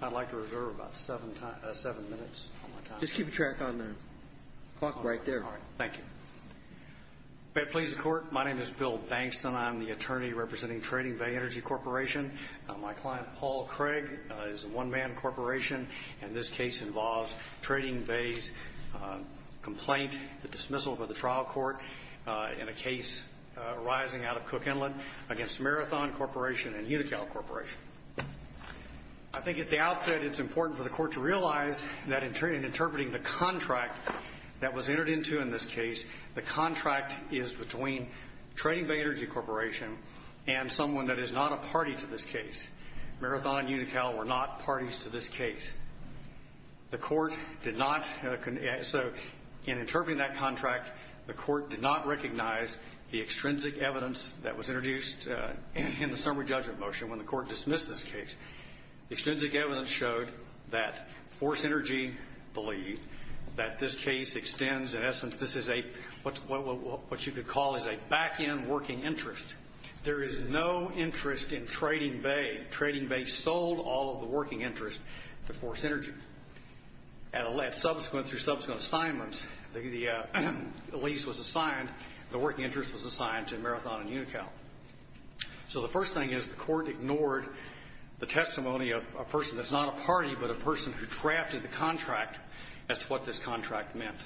I'd like to reserve about 7 minutes. Just keep track on the clock right there. All right. Thank you. May it please the Court, my name is Bill Bankston. I'm the attorney representing Trading Bay Energy Corporation. My client, Paul Craig, is a one-man corporation, and this case involves Trading Bay's complaint, the dismissal of the trial court in a case arising out of Cook Inlet against Marathon Corporation and Unical Corporation. I think at the outset it's important for the Court to realize that in interpreting the contract that was entered into in this case, the contract is between Trading Bay Energy Corporation and someone that is not a party to this case. Marathon and Unical were not parties to this The Court did not, so in interpreting that contract, the Court did not recognize the extrinsic evidence that was introduced in the summary judgment motion when the Court dismissed this case. Extrinsic evidence showed that Force Energy believed that this case extends, in essence, this is what you could call a back-end working interest. There is no interest in Trading Bay. Trading Bay sold all of the working interest to Force Energy. At subsequent, through subsequent assignments, the lease was assigned, the working interest was assigned to Marathon and Unical. So the first thing is the Court ignored the testimony of a person that's not a party, but a person who drafted the contract as to what this contract meant.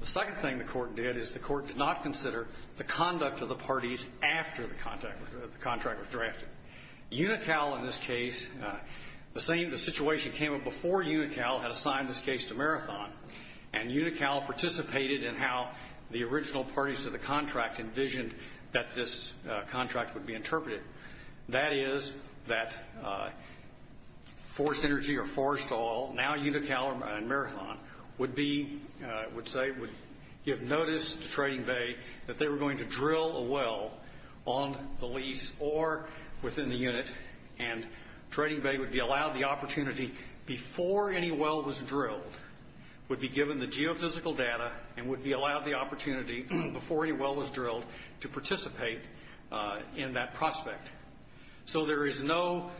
The second thing the Court did is the Court did not consider the conduct of the contract was drafted. Unical, in this case, the same situation came up before Unical had assigned this case to Marathon, and Unical participated in how the original parties to the contract envisioned that this contract would be interpreted. That is that Force Energy or Force Oil, now Unical and Marathon, would be, would say, would give notice to Trading Bay to drill a well on the lease or within the unit, and Trading Bay would be allowed the opportunity before any well was drilled, would be given the geophysical data, and would be allowed the opportunity before any well was drilled to participate in that prospect. So there is no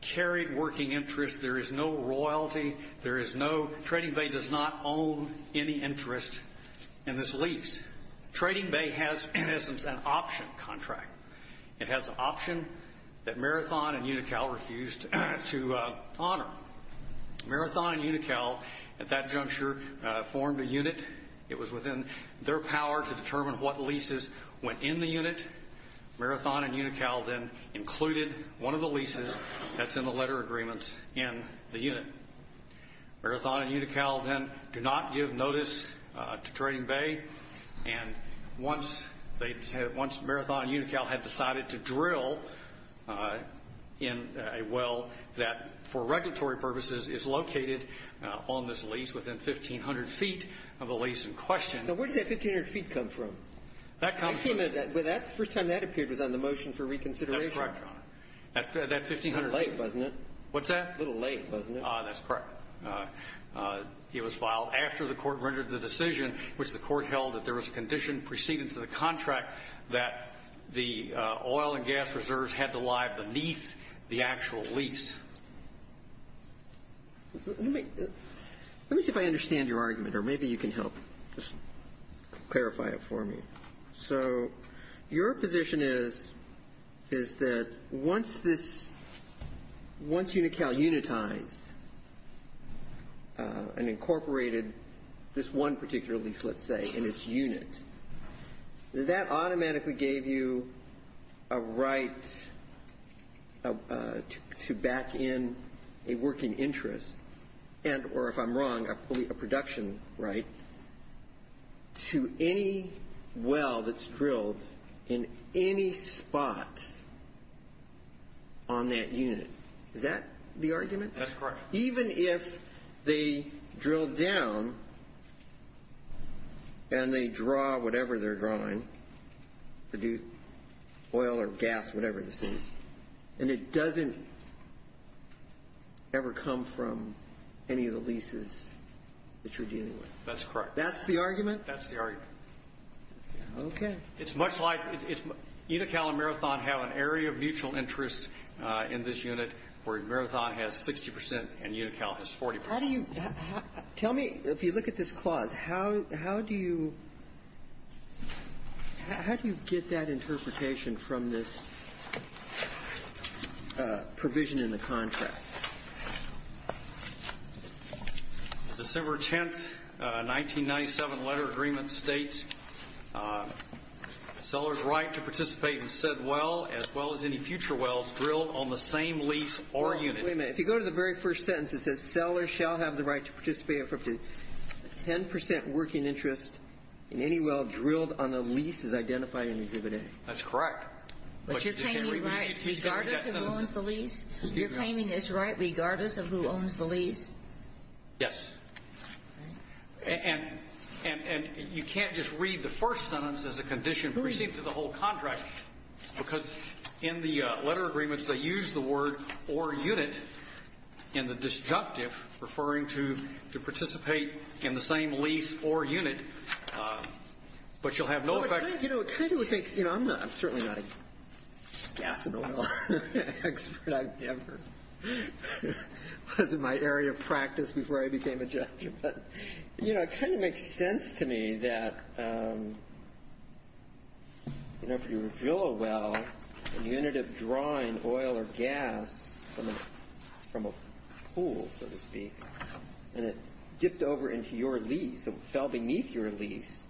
carried working interest, there is no royalty, there is no, Trading Bay does not own any interest in this lease. Trading Bay has, in essence, an option contract. It has an option that Marathon and Unical refused to honor. Marathon and Unical, at that juncture, formed a unit. It was within their power to determine what leases went in the unit. Marathon and Unical then included one of the leases that's in the letter agreements in the unit. Marathon and Unical then do not give notice to Trading Bay, and once Marathon and Unical had decided to drill in a well that, for regulatory purposes, is located on this lease within 1,500 feet of the lease in question. Now, where did that 1,500 feet come from? That comes from... I've seen that. The first time that appeared was on the motion for reconsideration. That's correct, Your Honor. That 1,500 feet... A little late, wasn't it? What's that? A little late, wasn't it? That's correct. It was filed after the court rendered the decision, which the court held that there was a condition preceding to the contract that the oil and gas reserves had to lie beneath the actual lease. Let me see if I understand your argument, or maybe you can help clarify it for me. So your position is that once Unical unitized, and incorporated this one particular lease, let's say, in its unit, that automatically gave you a right to back in a working interest, and or if I'm wrong, a production right, to any well that's drilled in any spot on that unit. Is that the argument? That's correct. Even if they drill down and they draw whatever they're drawing, oil or gas, whatever this is, and it doesn't ever come from any of the leases that you're dealing with? That's correct. That's the argument? That's the argument. Okay. It's much like where Marathon has 60% and Unical has 40%. How do you, tell me, if you look at this clause, how do you, how do you get that interpretation from this provision in the contract? December 10th, 1997 letter agreement states, seller's right to participate in said well, as well as any future wells drilled on the same lease or unit. Wait a minute. If you go to the very first sentence, it says, seller shall have the right to participate for up to 10% working interest in any well drilled on the lease as identified in Exhibit A. That's correct. But you're claiming right regardless of who owns the lease? You're claiming it's right regardless of who owns the lease? Yes. And you can't just read the first sentence as a condition perceived to the whole contract, because in the letter agreements, they use the word or unit in the disjunctive, referring to participate in the same lease or unit, but you'll have no effect. You know, it kind of makes, you know, I'm not, I'm certainly not a gas and oil expert. I've never, it wasn't my area of practice before I became a judge, but, you know, it kind of makes sense to me that, you know, if you drill a well and you ended up drawing oil or gas from a pool, so to speak, and it dipped over into your lease and fell beneath your lease,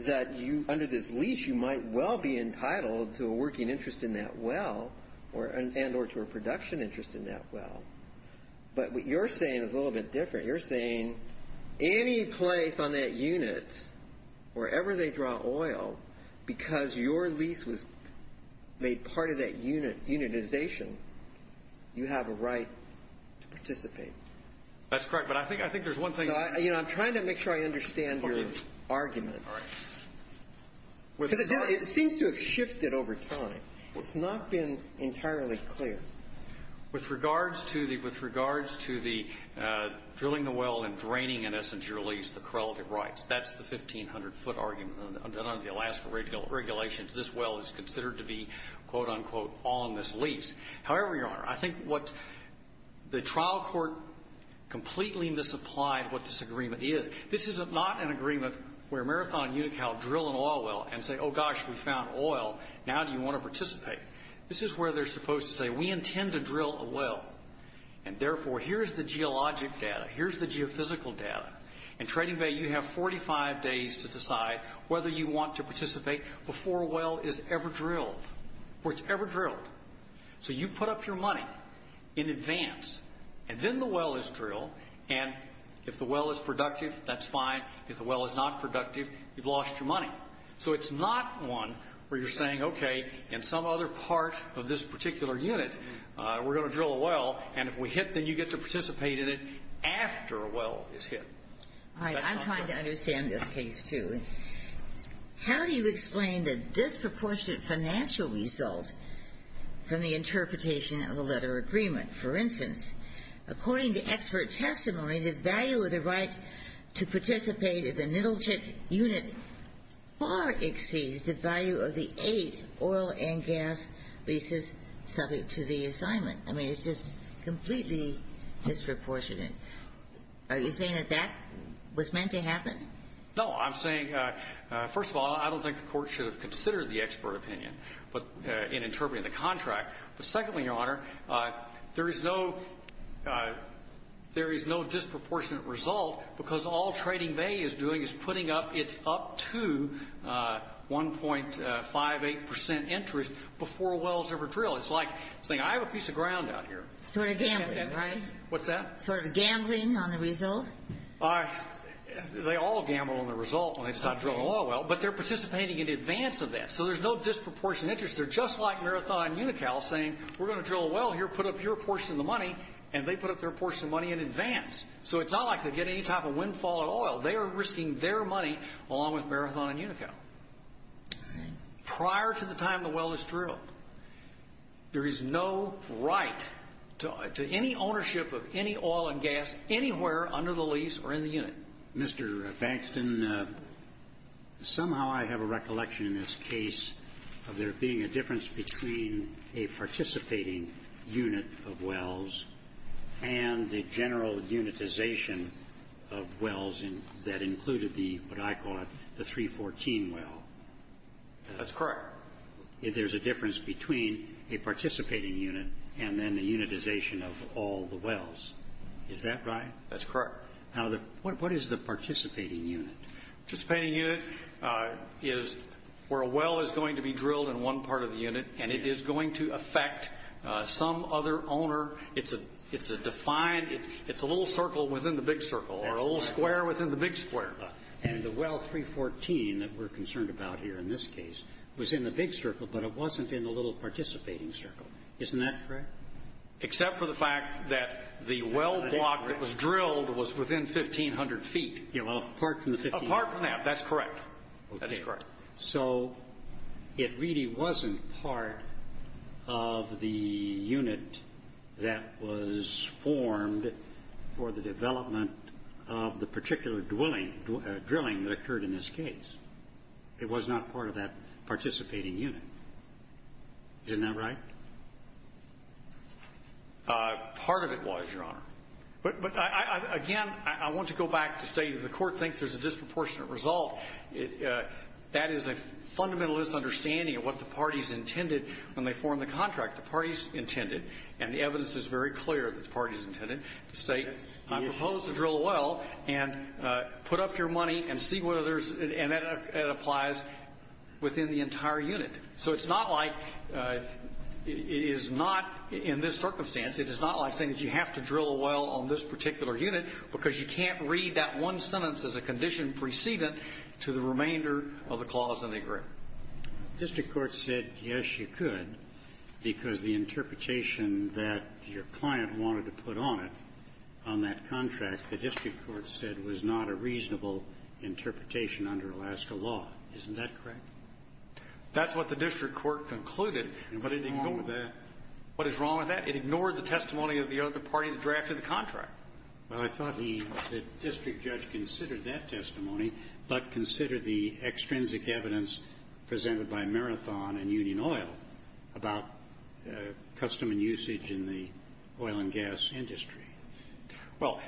that you, under this lease, you might well be entitled to a working interest in that well and or to a production interest in that well. But what you're saying is a little bit different. You're saying any place on that unit, wherever they draw oil, because your lease was made part of that unit, unitization, you have a right to participate. That's correct, but I think, I think there's one thing. You know, I'm trying to make sure I understand your argument. All right. Because it seems to have shifted over time. It's not been entirely clear. With regards to the, with regards to the drilling the well and draining, in essence, your lease, the correlative rights, that's the 1,500-foot argument under the Alaska regulations. This well is considered to be, quote, unquote, on this lease. However, Your Honor, I think what the trial court completely misapplied what this agreement is. This is not an agreement where Marathon and Unical drill an oil well and say, oh gosh, we found oil, now do you want to participate? This is where they're supposed to say, we intend to drill a well, and therefore, here's the geologic data, here's the geophysical data. In Trading Bay, you have 45 days to decide whether you want to participate before a well is ever drilled, or it's ever drilled. So you put up your money in advance, and then the well is drilled, and if the well is productive, that's fine. If the well is not productive, you've lost your money. So it's not one where you're saying, okay, in some other part of this particular unit, we're going to drill a well, and if we hit, then you get to participate in it after a well is hit. All right. I'm trying to understand this case, too. How do you explain the disproportionate financial result from the interpretation of the letter agreement? For instance, according to expert testimony, the value of the right to participate in the Nittlechick unit far exceeds the value of the eight oil and gas leases subject to the assignment. I mean, it's just completely disproportionate. Are you saying that that was meant to happen? No. I'm saying, first of all, I don't think the Court should have considered the expert opinion in interpreting the contract. But secondly, Your Honor, there is no disproportionate result because all Trading Bay is doing is putting up its up to 1.58 percent interest before a well is ever drilled. It's like saying, I have a piece of ground out here. Sort of gambling, right? What's that? Sort of gambling on the result? They all gamble on the result when they decide to drill an oil well, but they're participating in advance of that. So there's no disproportionate interest. They're just like Marathon and Unical saying, we're going to drill a well here, put up your portion of the money, and they put up their portion of the money in advance. So it's not like they get any type of windfall at oil. They are risking their money along with Marathon and Unical. Prior to the time the well is drilled, there is no right to any ownership of any oil and gas anywhere under the lease or in the unit. Mr. Baxton, somehow I have a recollection in this case of there being a difference between a participating unit of wells and the general unitization of wells that included the, what I call it, the 314 well. That's correct. There's a difference between a participating unit and then the unitization of all the wells. Is that right? That's correct. What is the participating unit? Participating unit is where a well is going to be drilled in one part of the unit, and it is going to affect some other owner. It's a defined, it's a little circle within the big circle, or a little square within the big square. And the well 314 that we're concerned about here in this case was in the big circle, but it wasn't in the little participating circle. Isn't that correct? Except for the fact that the well block that was drilled was within 1,500 feet. Apart from the 1,500 feet. Apart from that. That's correct. So it really wasn't part of the unit that was formed for the development of the particular drilling that occurred in this case. It was not part of that participating unit. Isn't that right? Part of it was, Your Honor. But again, I want to go back to state that the Court thinks there's a disproportionate result. That is a fundamental misunderstanding of what the parties intended when they formed the contract. The parties intended, and the evidence is very clear that the parties intended, to state, I propose to drill a well and put up your not, in this circumstance, it is not like saying that you have to drill a well on this particular unit because you can't read that one sentence as a condition precedent to the remainder of the clause in the agreement. District Court said, yes, you could, because the interpretation that your client wanted to put on it, on that contract, the District Court said was not a reasonable interpretation under Alaska law. Isn't that correct? That's what the District Court concluded. And what is wrong with that? What is wrong with that? It ignored the testimony of the other party that drafted the contract. Well, I thought the District Judge considered that testimony, but considered the extrinsic evidence presented by Marathon and Union Oil about custom and usage in the oil and gas industry. Well.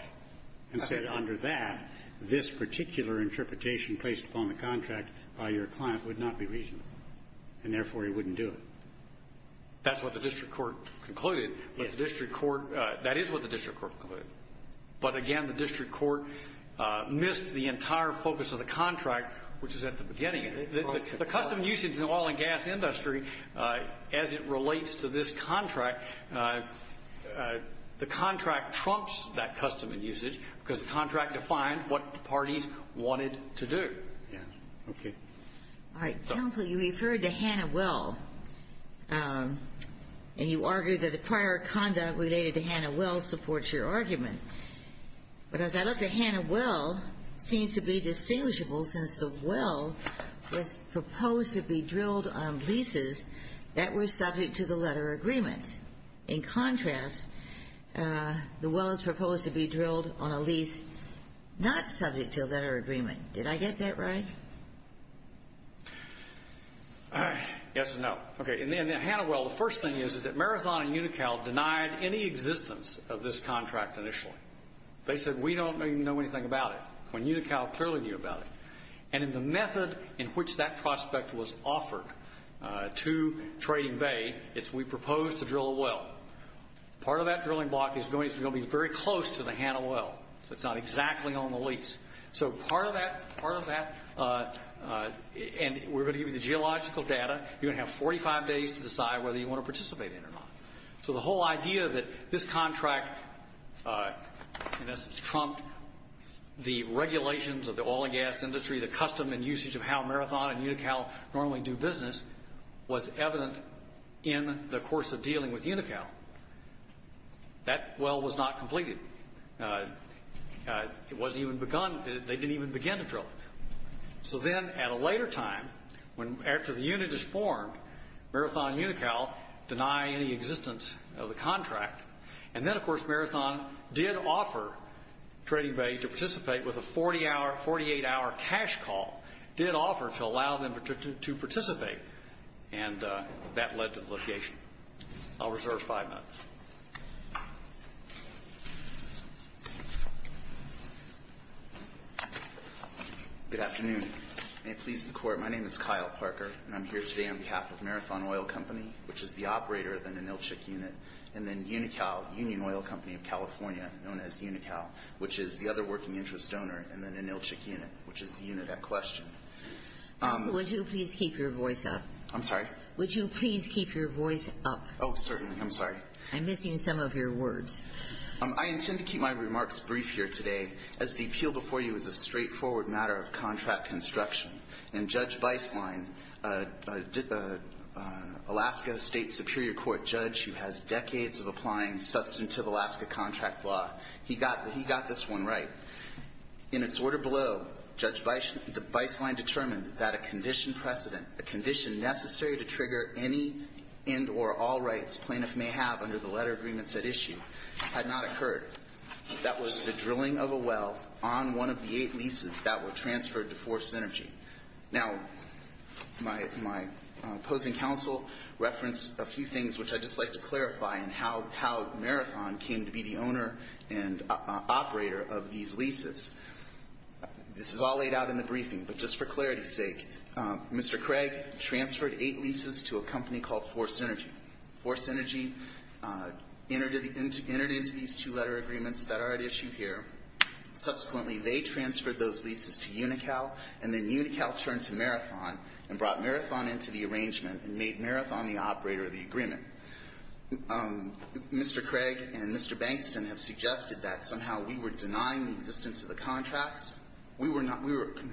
And said under that, this particular interpretation placed upon the contract by your client would not be reasonable. And therefore, he wouldn't do it. That's what the District Court concluded. Yes. But the District Court, that is what the District Court concluded. But again, the District Court missed the entire focus of the contract, which is at the beginning of it. The custom usage in the oil and gas industry, as it relates to this contract, the contract trumps that custom and usage because the contract defined what the parties wanted to do. Yes. Okay. All right. Counsel, you referred to Hannah Well, and you argued that the prior conduct related to Hannah Well supports your argument. But as I look at Hannah Well, it seems to be distinguishable since the Well was proposed to be drilled on leases that were subject to the letter agreement. In contrast, the Well is proposed to be drilled on a lease not subject to a letter agreement. Did I get that right? Yes and no. Okay. In the Hannah Well, the first thing is that Marathon and Unical denied any existence of this contract initially. They said, we don't even know anything about it, when Unical clearly knew about it. And in the method in which that prospect was offered to Trading Bay, it's we propose to drill a well. Part of that drilling block is going to be very close to the Hannah Well. So it's not exactly on the lease. So part of that, and we're going to give you the geological data, you're going to have 45 days to decide whether you want to participate in it or not. So the whole idea that this contract, in essence, trumped the regulations of the oil and gas industry, the custom and usage of how Marathon and Unical normally do business, was evident in the course of dealing with Unical. That well was not completed. It wasn't even begun. They didn't even begin to drill it. So then, at a later time, after the unit is formed, Marathon and Unical deny any existence of the contract. And then, of course, Marathon did offer Trading Bay to participate with a 48-hour cash call. Did offer to allow them to participate. And that led to litigation. I'll reserve five minutes. Good afternoon. May it please the Court. My name is Kyle Parker, and I'm here today on behalf of Marathon Oil Company, which is the operator of the Ninilchik unit, and then Unical, Union Oil Company of California, known as Unical, which is the other working interest donor, and then Ninilchik unit, which is the unit at question. Ginsburg. Counsel, would you please keep your voice up? I'm sorry? Would you please keep your voice up? Oh, certainly. I'm missing some of your words. I intend to keep my remarks brief here today, as the appeal before you is a straightforward matter of contract construction. And Judge Beislein, Alaska State Superior Court judge who has decades of applying substantive Alaska contract law, he got this one right. In its order below, Judge Beislein determined that a condition precedent, a condition necessary to trigger any and or all rights plaintiff may have under the agreements at issue, had not occurred. That was the drilling of a well on one of the eight leases that were transferred to Force Energy. Now, my opposing counsel referenced a few things which I'd just like to clarify in how Marathon came to be the owner and operator of these leases. This is all laid out in the briefing, but just for clarity's sake, Mr. Craig transferred eight leases to a company called Force Energy. Force Energy entered into these two-letter agreements that are at issue here. Subsequently, they transferred those leases to Unical, and then Unical turned to Marathon and brought Marathon into the arrangement and made Marathon the operator of the agreement. Mr. Craig and Mr. Bankston have suggested that somehow we were denying the existence of the contracts. We were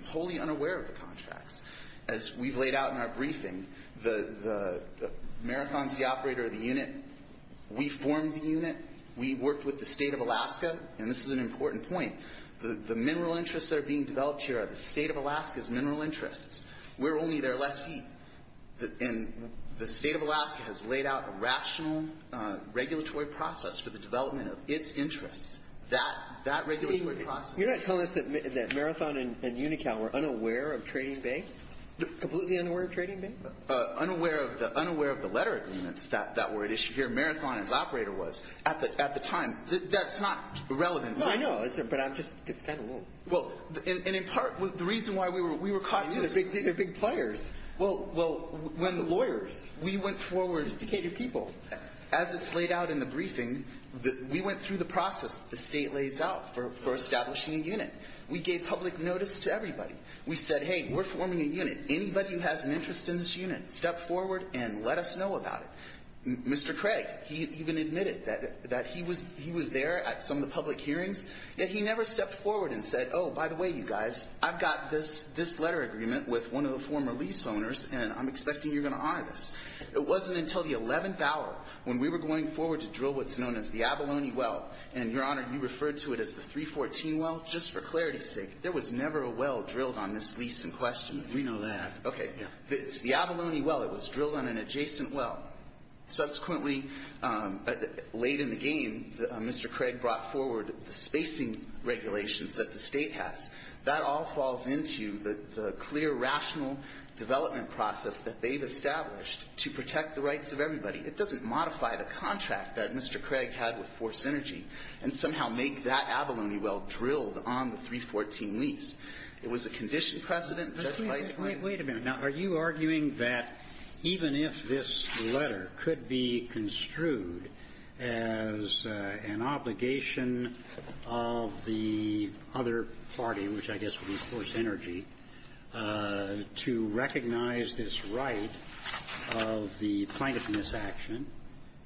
wholly unaware of the contracts. As we've laid out in our briefing, Marathon's the operator of the unit. We formed the unit. We worked with the state of Alaska, and this is an important point. The mineral interests that are being developed here are the state of Alaska's mineral interests. We're only their lessee. And the state of Alaska has laid out a rational regulatory process for the development of its interests. That regulatory process— Completely unaware of trading bank? Unaware of the letter agreements that were at issue here. Marathon is operator was at the time. That's not relevant. No, I know, but I'm just—it's kind of— Well, and in part, the reason why we were caught— These are big players. Well, when lawyers— We went forward— Instigated people. As it's laid out in the briefing, we went through the process the state lays out for establishing a unit. We gave public notice to everybody. We said, hey, we're forming a unit. Anybody who has an interest in this unit, step forward and let us know about it. Mr. Craig, he even admitted that he was there at some of the public hearings, yet he never stepped forward and said, oh, by the way, you guys, I've got this letter agreement with one of the former lease owners, and I'm expecting you're going to honor this. It wasn't until the 11th hour, when we were going forward to drill what's known as the Abalone Well, and, Your Honor, you referred to it as the 314 Well. Well, just for clarity's sake, there was never a well drilled on this lease in question. We know that. Okay. It's the Abalone Well. It was drilled on an adjacent well. Subsequently, late in the game, Mr. Craig brought forward the spacing regulations that the state has. That all falls into the clear, rational development process that they've established to protect the rights of everybody. It doesn't modify the contract that Mr. Craig had with Force Energy and somehow make that on the 314 lease. It was a condition precedent. Judge Weisman. Wait a minute. Now, are you arguing that even if this letter could be construed as an obligation of the other party, which I guess would be Force Energy, to recognize this right of the plaintiff in this action,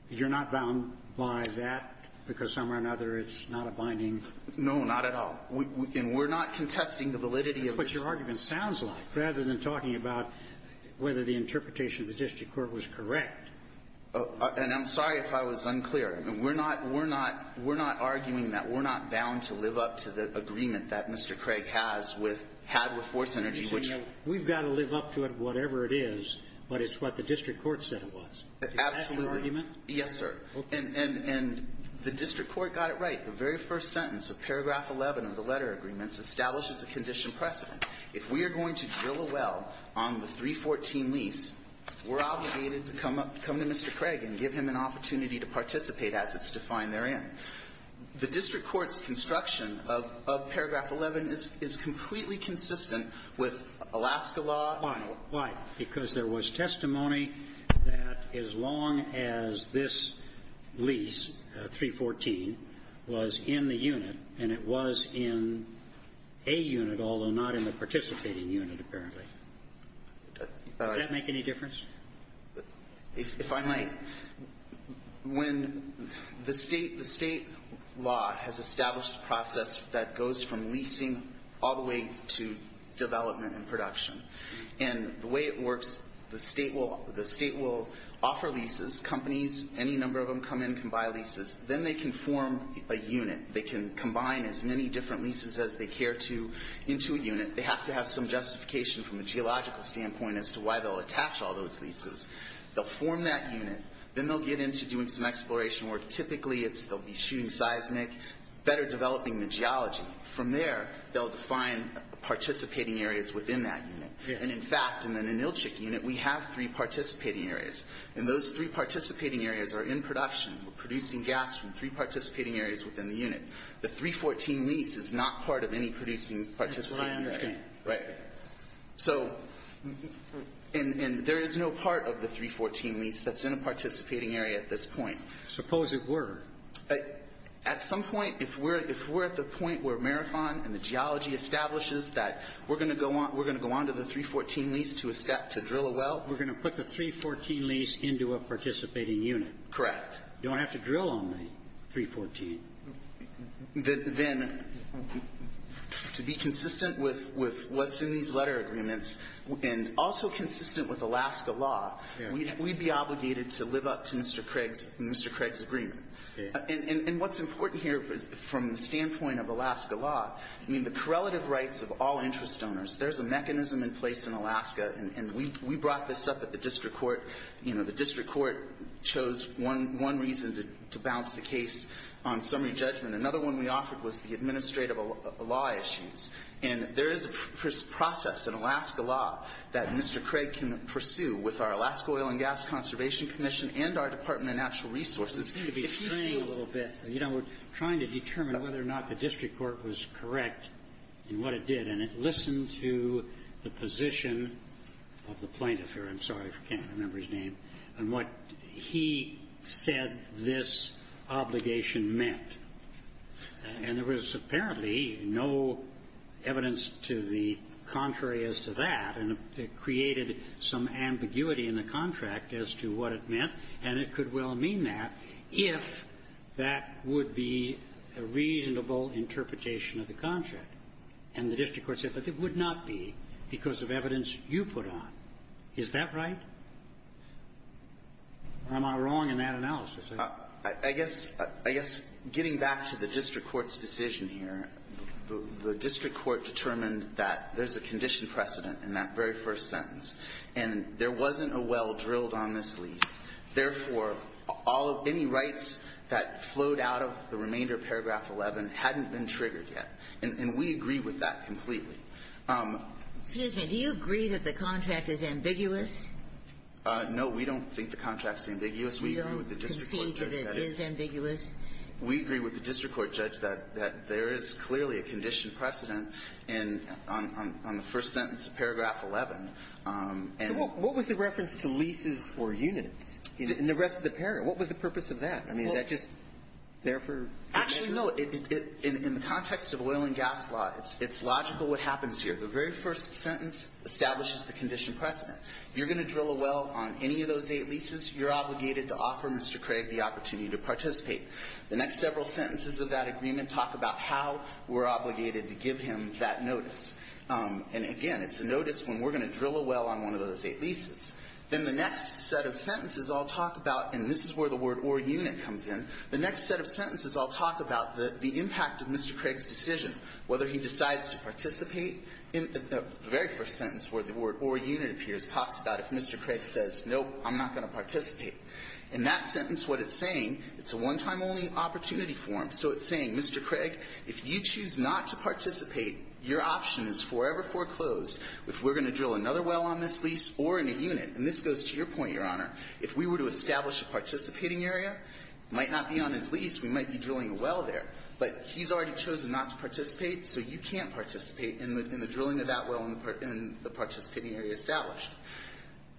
you're not bound by that because some way or another it's not a binding? No, not at all. And we're not contesting the validity of this. That's what your argument sounds like rather than talking about whether the interpretation of the district court was correct. And I'm sorry if I was unclear. I mean, we're not arguing that. We're not bound to live up to the agreement that Mr. Craig had with Force Energy, which we've got to live up to it, whatever it is. But it's what the district court said it was. Is that the argument? Yes, sir. And the district court got it right. The very first sentence of paragraph 11 of the letter agreements establishes a condition precedent. If we are going to drill a well on the 314 lease, we're obligated to come up, come to Mr. Craig and give him an opportunity to participate as it's defined therein. The district court's construction of paragraph 11 is completely consistent with Alaska law. Why? Because there was testimony that as long as this lease, 314, was in the unit, and it was in a unit, although not in the participating unit, apparently. Does that make any difference? If I might, when the State law has established a process that goes from leasing all the way to development and production. And the way it works, the State will offer leases, companies, any number of them come in and can buy leases. Then they can form a unit. They can combine as many different leases as they care to into a unit. They have to have some justification from a geological standpoint as to why they'll attach all those leases. They'll form that unit. Then they'll get into doing some exploration work. Typically, they'll be shooting seismic, better developing the geology. From there, they'll define participating areas within that unit. And, in fact, in an Inilchik unit, we have three participating areas. And those three participating areas are in production, producing gas from three participating areas within the unit. The 314 lease is not part of any producing participating area. That's what I understand. Right. So, and there is no part of the 314 lease that's in a participating area at this point. Suppose it were. At some point, if we're at the point where Marathon and the geology establishes that we're going to go on to the 314 lease to drill a well. We're going to put the 314 lease into a participating unit. Correct. You don't have to drill on the 314. Then, to be consistent with what's in these letter agreements and also consistent with Alaska law, we'd be obligated to live up to Mr. Craig's agreement. And what's important here from the standpoint of Alaska law, I mean, the correlative rights of all interest donors, there's a mechanism in place in Alaska. And we brought this up at the district court. You know, the district court chose one reason to balance the case on summary judgment. Another one we offered was the administrative law issues. And there is a process in Alaska law that Mr. Craig can pursue with our Alaska Oil and Gas Conservation Commission and our Department of Natural Resources. You know, we're trying to determine whether or not the district court was correct in what it did. And it listened to the position of the plaintiff here. I'm sorry, I can't remember his name. And what he said this obligation meant. And there was apparently no evidence to the contrary as to that. And it created some ambiguity in the contract as to what it meant. And it could well mean that if that would be a reasonable interpretation of the contract. And the district court said, but it would not be because of evidence you put on. Is that right? Or am I wrong in that analysis? I guess getting back to the district court's decision here, the district court determined that there's a condition precedent in that very first sentence. And there wasn't a well drilled on this lease. Therefore, any rights that flowed out of the remainder of Paragraph 11 hadn't been triggered yet. And we agree with that completely. Excuse me. Do you agree that the contract is ambiguous? No, we don't think the contract is ambiguous. We agree with the district court judge that it is. We don't concede that it is ambiguous. We agree with the district court judge that there is clearly a condition precedent in the first sentence of Paragraph 11. And what was the reference to leases or units in the rest of the paragraph? What was the purpose of that? I mean, is that just there for the record? Actually, no. In the context of oil and gas law, it's logical what happens here. The very first sentence establishes the condition precedent. If you're going to drill a well on any of those eight leases, you're obligated to offer Mr. Craig the opportunity to participate. The next several sentences of that agreement talk about how we're obligated to give him that notice. And, again, it's a notice when we're going to drill a well on one of those eight leases. Then the next set of sentences all talk about, and this is where the word or unit comes in, the next set of sentences all talk about the impact of Mr. Craig's decision, whether he decides to participate. The very first sentence where the word or unit appears talks about if Mr. Craig says, nope, I'm not going to participate. In that sentence, what it's saying, it's a one-time-only opportunity form, so it's saying, Mr. Craig, if you choose not to participate, your option is forever foreclosed if we're going to drill another well on this lease or in a unit. And this goes to your point, Your Honor. If we were to establish a participating area, it might not be on his lease. We might be drilling a well there. But he's already chosen not to participate, so you can't participate in the drilling of that well in the participating area established.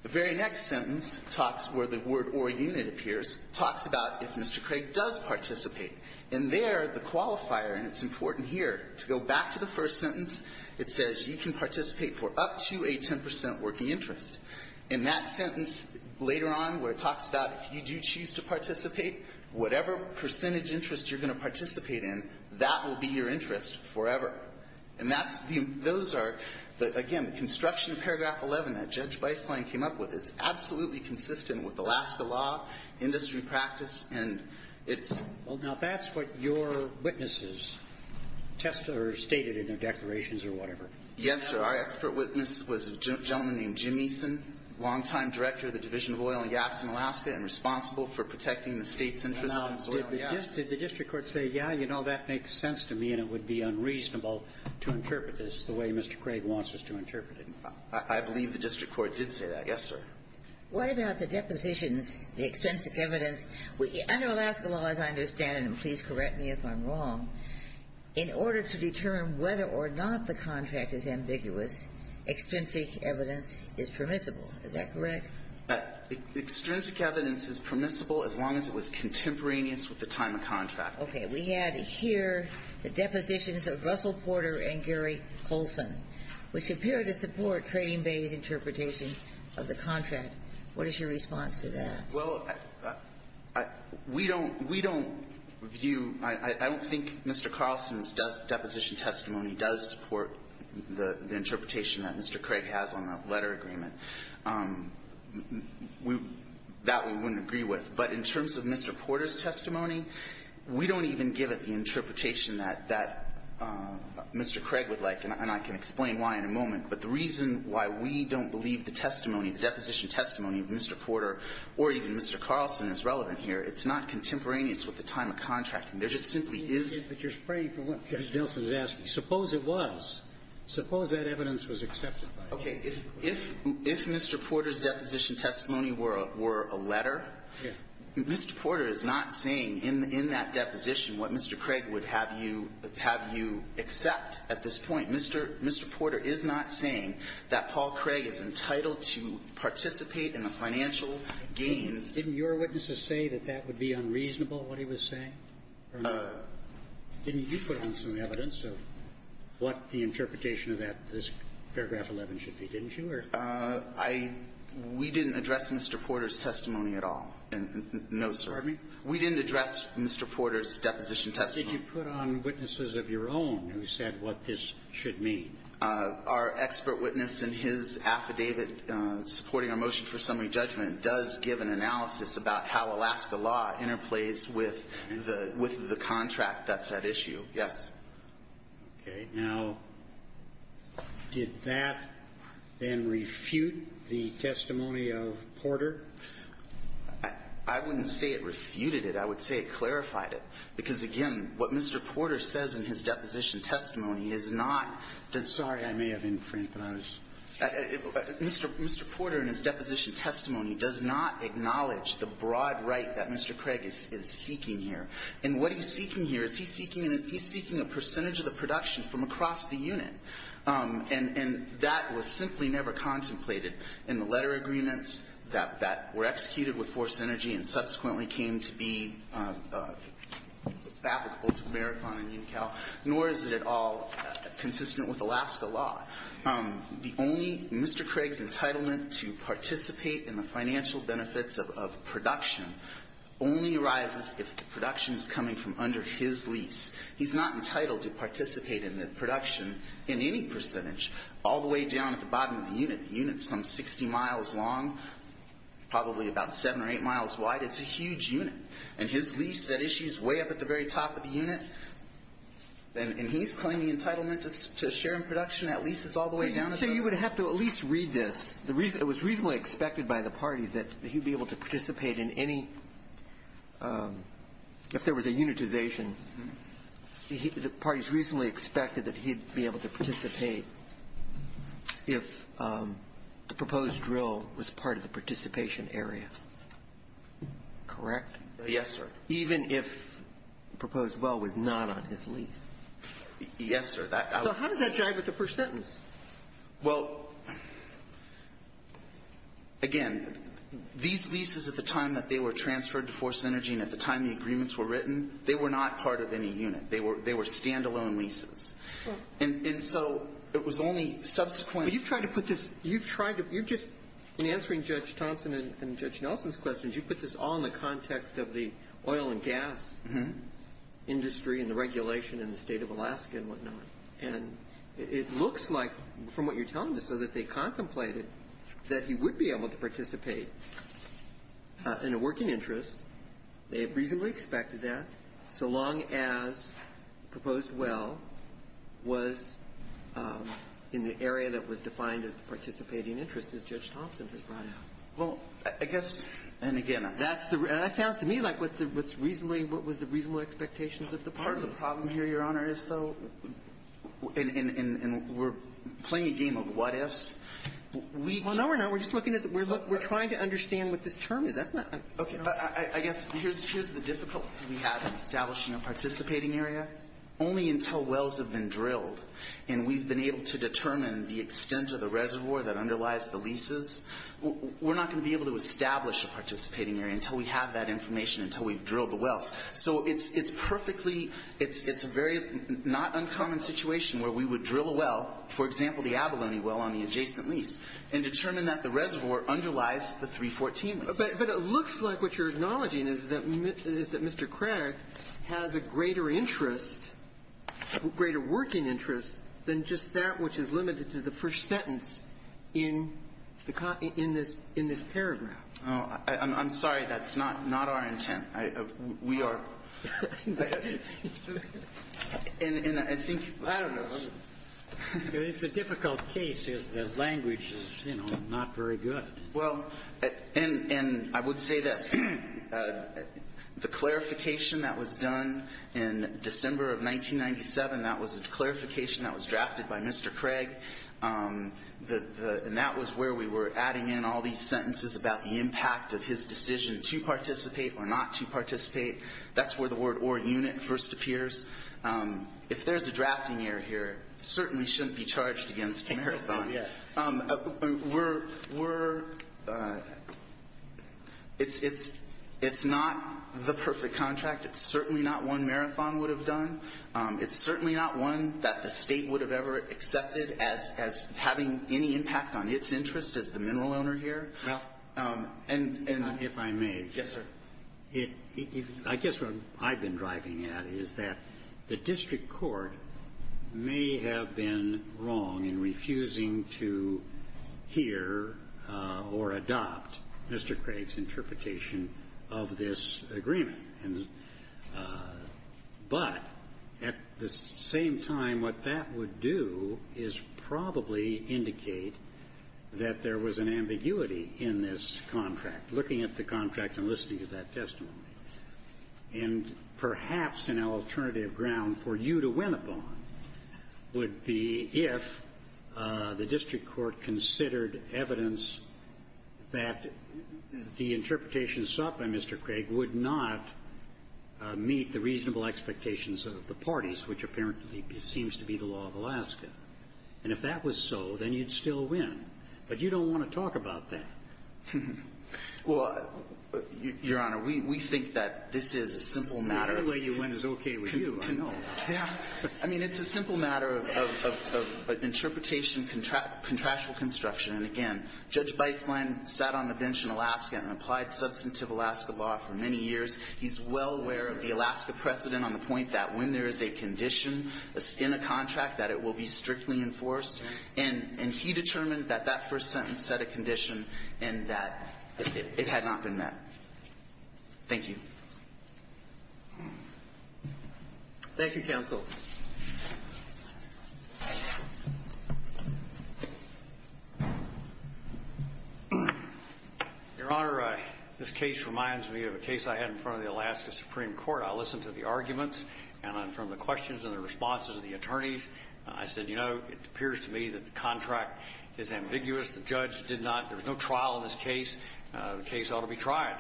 The very next sentence talks, where the word or unit appears, talks about if Mr. Craig does participate. And there, the qualifier, and it's important here, to go back to the first sentence, it says you can participate for up to a 10 percent working interest. In that sentence later on where it talks about if you do choose to participate, whatever percentage interest you're going to participate in, that will be your interest forever. And those are, again, construction paragraph 11 that Judge Beisling came up with is absolutely consistent with Alaska law, industry practice, and it's – Well, now, that's what your witnesses tested or stated in their declarations or whatever. Yes, sir. Our expert witness was a gentleman named Jim Eason, longtime director of the Division of Oil and Gas in Alaska and responsible for protecting the State's interests in oil and gas. Now, did the district court say, yeah, you know, that makes sense to me and it would be unreasonable to interpret this the way Mr. Craig wants us to interpret it? I believe the district court did say that. Yes, sir. What about the depositions, the extrinsic evidence? Under Alaska law, as I understand it, and please correct me if I'm wrong, in order to determine whether or not the contract is ambiguous, extrinsic evidence is permissible. Is that correct? Extrinsic evidence is permissible as long as it was contemporaneous with the time of the contract. Okay. We had here the depositions of Russell Porter and Gary Colson, which appear to support Trading Bay's interpretation of the contract. What is your response to that? Well, we don't – we don't view – I don't think Mr. Carlson's deposition testimony does support the interpretation that Mr. Craig has on the letter agreement. That we wouldn't agree with. But in terms of Mr. Porter's testimony, we don't even give it the interpretation that – that Mr. Craig would like, and I can explain why in a moment. But the reason why we don't believe the testimony, the deposition testimony of Mr. Porter or even Mr. Carlson is relevant here. It's not contemporaneous with the time of contracting. There just simply is – But you're spraying from what Judge Nelson is asking. Suppose it was. Suppose that evidence was accepted. Okay. If Mr. Porter's deposition testimony were a letter, Mr. Porter is not saying in that deposition what Mr. Craig would have you – have you accept at this point. Mr. Porter is not saying that Paul Craig is entitled to participate in the financial gains. Didn't your witnesses say that that would be unreasonable, what he was saying? Didn't you put on some evidence of what the interpretation of that – this paragraph 11 should be, didn't you, or? I – we didn't address Mr. Porter's testimony at all. No, sir. Pardon me? We didn't address Mr. Porter's deposition testimony. Did you put on witnesses of your own who said what this should mean? Our expert witness in his affidavit supporting our motion for summary judgment does give an analysis about how Alaska law interplays with the – with the contract that's at issue, yes. Okay. Now, did that then refute the testimony of Porter? I wouldn't say it refuted it. I would say it clarified it. Because, again, what Mr. Porter says in his deposition testimony is not – Sorry. I may have infringed. Mr. Porter, in his deposition testimony, does not acknowledge the broad right that Mr. Craig is seeking here. And what he's seeking here is he's seeking – he's seeking a percentage of the production from across the unit. And that was simply never contemplated in the letter agreements that were executed with force energy and subsequently came to be applicable to Marathon and UNICAL, nor is it at all consistent with Alaska law. The only – Mr. Craig's entitlement to participate in the financial benefits of production only arises if the production is coming from under his lease. He's not entitled to participate in the production in any percentage all the way down at the bottom of the unit. The unit's some 60 miles long, probably about 7 or 8 miles wide. It's a huge unit. And his lease at issue is way up at the very top of the unit. And he's claiming entitlement to share in production at leases all the way down at the bottom. So you would have to at least read this. It was reasonably expected by the parties that he'd be able to participate in any – if there was a unitization, the parties reasonably expected that he'd be able to participate if the proposed drill was part of the participation area, correct? Yes, sir. Even if the proposed well was not on his lease? Yes, sir. So how does that jive with the first sentence? Well, again, these leases at the time that they were transferred to Force Energy and at the time the agreements were written, they were not part of any unit. They were stand-alone leases. And so it was only subsequent – But you've tried to put this – you've tried to – you've just – in answering Judge Thompson and Judge Nelson's questions, you put this all in the context of the oil and gas industry and the regulation in the state of Alaska and whatnot. And it looks like, from what you're telling us, so that they contemplated that he would be able to participate in a working interest. They had reasonably expected that so long as the proposed well was in the area that was defined as the participating interest, as Judge Thompson has brought out. Well, I guess – And again, that's the – that sounds to me like what's reasonably – what was the reasonable expectations of the parties. The problem here, Your Honor, is, though, and we're playing a game of what-ifs, we can't – Well, no, we're not. We're just looking at – we're trying to understand what this term is. That's not – Okay. I guess here's the difficulty we have in establishing a participating area. Only until wells have been drilled and we've been able to determine the extent of the reservoir that underlies the leases, we're not going to be able to establish a participating area until we have that information, until we've drilled the wells. So it's perfectly – it's a very not uncommon situation where we would drill a well, for example, the Abalone well on the adjacent lease, and determine that the reservoir underlies the 314. But it looks like what you're acknowledging is that Mr. Craig has a greater interest, greater working interest, than just that which is limited to the first sentence in the – in this paragraph. I'm sorry. That's not our intent. We are – And I think – I don't know. It's a difficult case is that language is, you know, not very good. Well, and I would say this. The clarification that was done in December of 1997, that was a clarification that was drafted by Mr. Craig. And that was where we were adding in all these sentences about the impact of his decision to participate or not to participate. That's where the word or unit first appears. If there's a drafting error here, it certainly shouldn't be charged against a marathon. We're – it's not the perfect contract. It's certainly not one marathon would have done. It's certainly not one that the state would have ever accepted as having any impact on its interest as the mineral owner here. Well, and – If I may. Yes, sir. I guess what I've been driving at is that the district court may have been wrong in refusing to hear or adopt Mr. Craig's interpretation of this agreement. But at the same time, what that would do is probably indicate that there was an ambiguity in this contract, looking at the contract and listening to that testimony. And perhaps an alternative ground for you to win upon would be if the district court considered evidence that the interpretation sought by Mr. Craig would not meet the reasonable expectations of the parties, which apparently seems to be the law of Alaska. And if that was so, then you'd still win. But you don't want to talk about that. Well, Your Honor, we think that this is a simple matter. The other way you went is okay with you, I know. Yeah. I mean, it's a simple matter of interpretation, contractual construction. And again, Judge Beistlein sat on the bench in Alaska and applied substantive Alaska law for many years. He's well aware of the Alaska precedent on the point that when there is a condition in a contract that it will be strictly enforced. And he determined that that first sentence set a condition and that it had not been met. Thank you. Thank you, counsel. Your Honor, this case reminds me of a case I had in front of the Alaska Supreme Court. I listened to the arguments. And from the questions and the responses of the attorneys, I said, you know, it seems to me that the contract is ambiguous. The judge did not, there was no trial in this case. The case ought to be tried.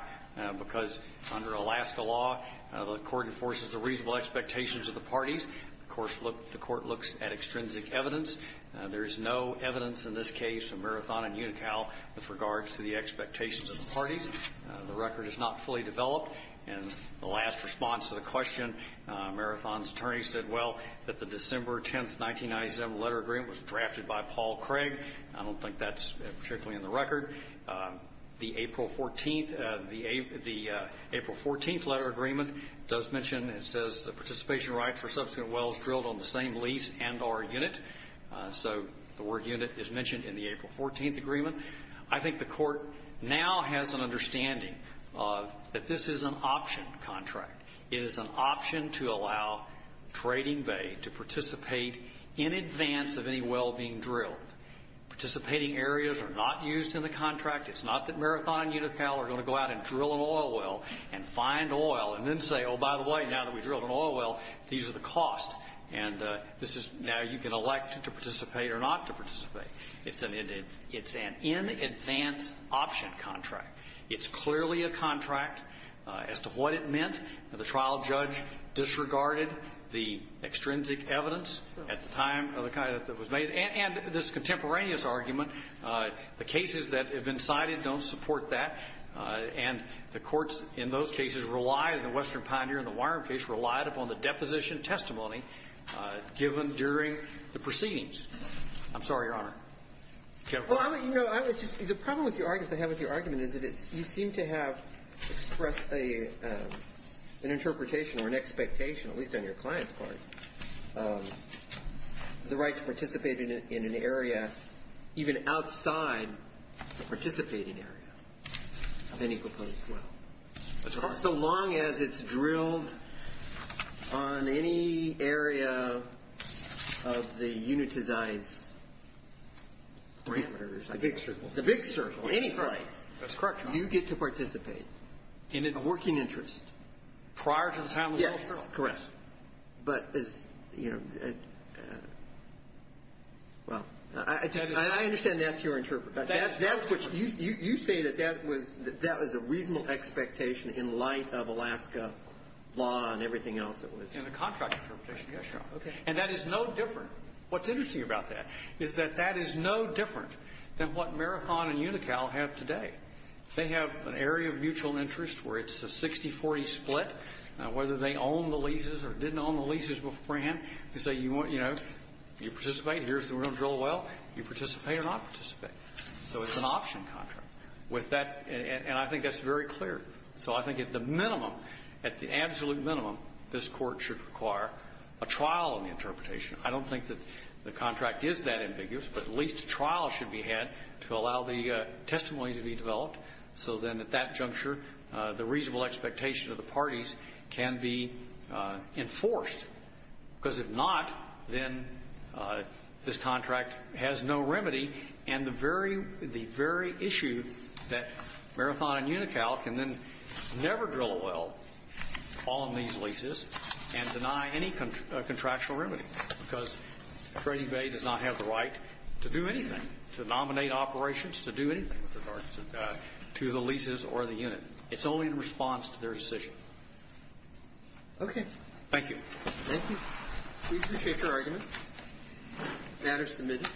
Because under Alaska law, the court enforces the reasonable expectations of the parties. Of course, the court looks at extrinsic evidence. There is no evidence in this case of Marathon and Unical with regards to the expectations of the parties. The record is not fully developed. And the last response to the question, Marathon's attorney said, well, that the contract was drafted by Paul Craig. I don't think that's particularly in the record. The April 14th letter agreement does mention, it says, the participation right for subsequent wells drilled on the same lease and or unit. So the word unit is mentioned in the April 14th agreement. I think the court now has an understanding that this is an option contract. It is an option to allow Trading Bay to participate in advance of any well being drilled. Participating areas are not used in the contract. It's not that Marathon and Unical are going to go out and drill an oil well and find oil and then say, oh, by the way, now that we drilled an oil well, these are the costs. And this is now you can elect to participate or not to participate. It's an in advance option contract. It's clearly a contract. As to what it meant, the trial judge disregarded the extrinsic evidence at the time of the kind that was made, and this contemporaneous argument, the cases that have been cited don't support that. And the courts in those cases relied, in the Western Pioneer and the Wyrom case, relied upon the deposition testimony given during the proceedings. I'm sorry, Your Honor. The problem with your argument is that you seem to have expressed an interpretation or an expectation, at least on your client's part, the right to participate in an area even outside the participating area of any proposed well. So long as it's drilled on any area of the unitized parameters. The big circle. The big circle. Any place. That's correct, Your Honor. You get to participate. Of working interest. Prior to the time of the oil well. Yes, correct. But as, you know, well, I understand that's your interpretation. You say that that was a reasonable expectation in light of Alaska law and everything else that was. In the contract interpretation, yes, Your Honor. Okay. And that is no different. What's interesting about that is that that is no different than what Marathon and UNICAL have today. They have an area of mutual interest where it's a 60-40 split, whether they own the leases or didn't own the leases beforehand. They say, you know, you participate, here's the real drill well. You participate or not participate. So it's an option contract. With that, and I think that's very clear. So I think at the minimum, at the absolute minimum, this Court should require a trial on the interpretation. I don't think that the contract is that ambiguous, but at least a trial should be had to allow the testimony to be developed, so then at that juncture, the reasonable expectation of the parties can be enforced. Because if not, then this contract has no remedy, and the very issue that Marathon and UNICAL can then never drill a well on these leases and deny any contractual remedy, because Trading Bay does not have the right to do anything, to nominate operations, to do anything with regards to the leases or the unit. It's only in response to their decision. Okay. Thank you. Thank you. We appreciate your arguments. The matter is submitted.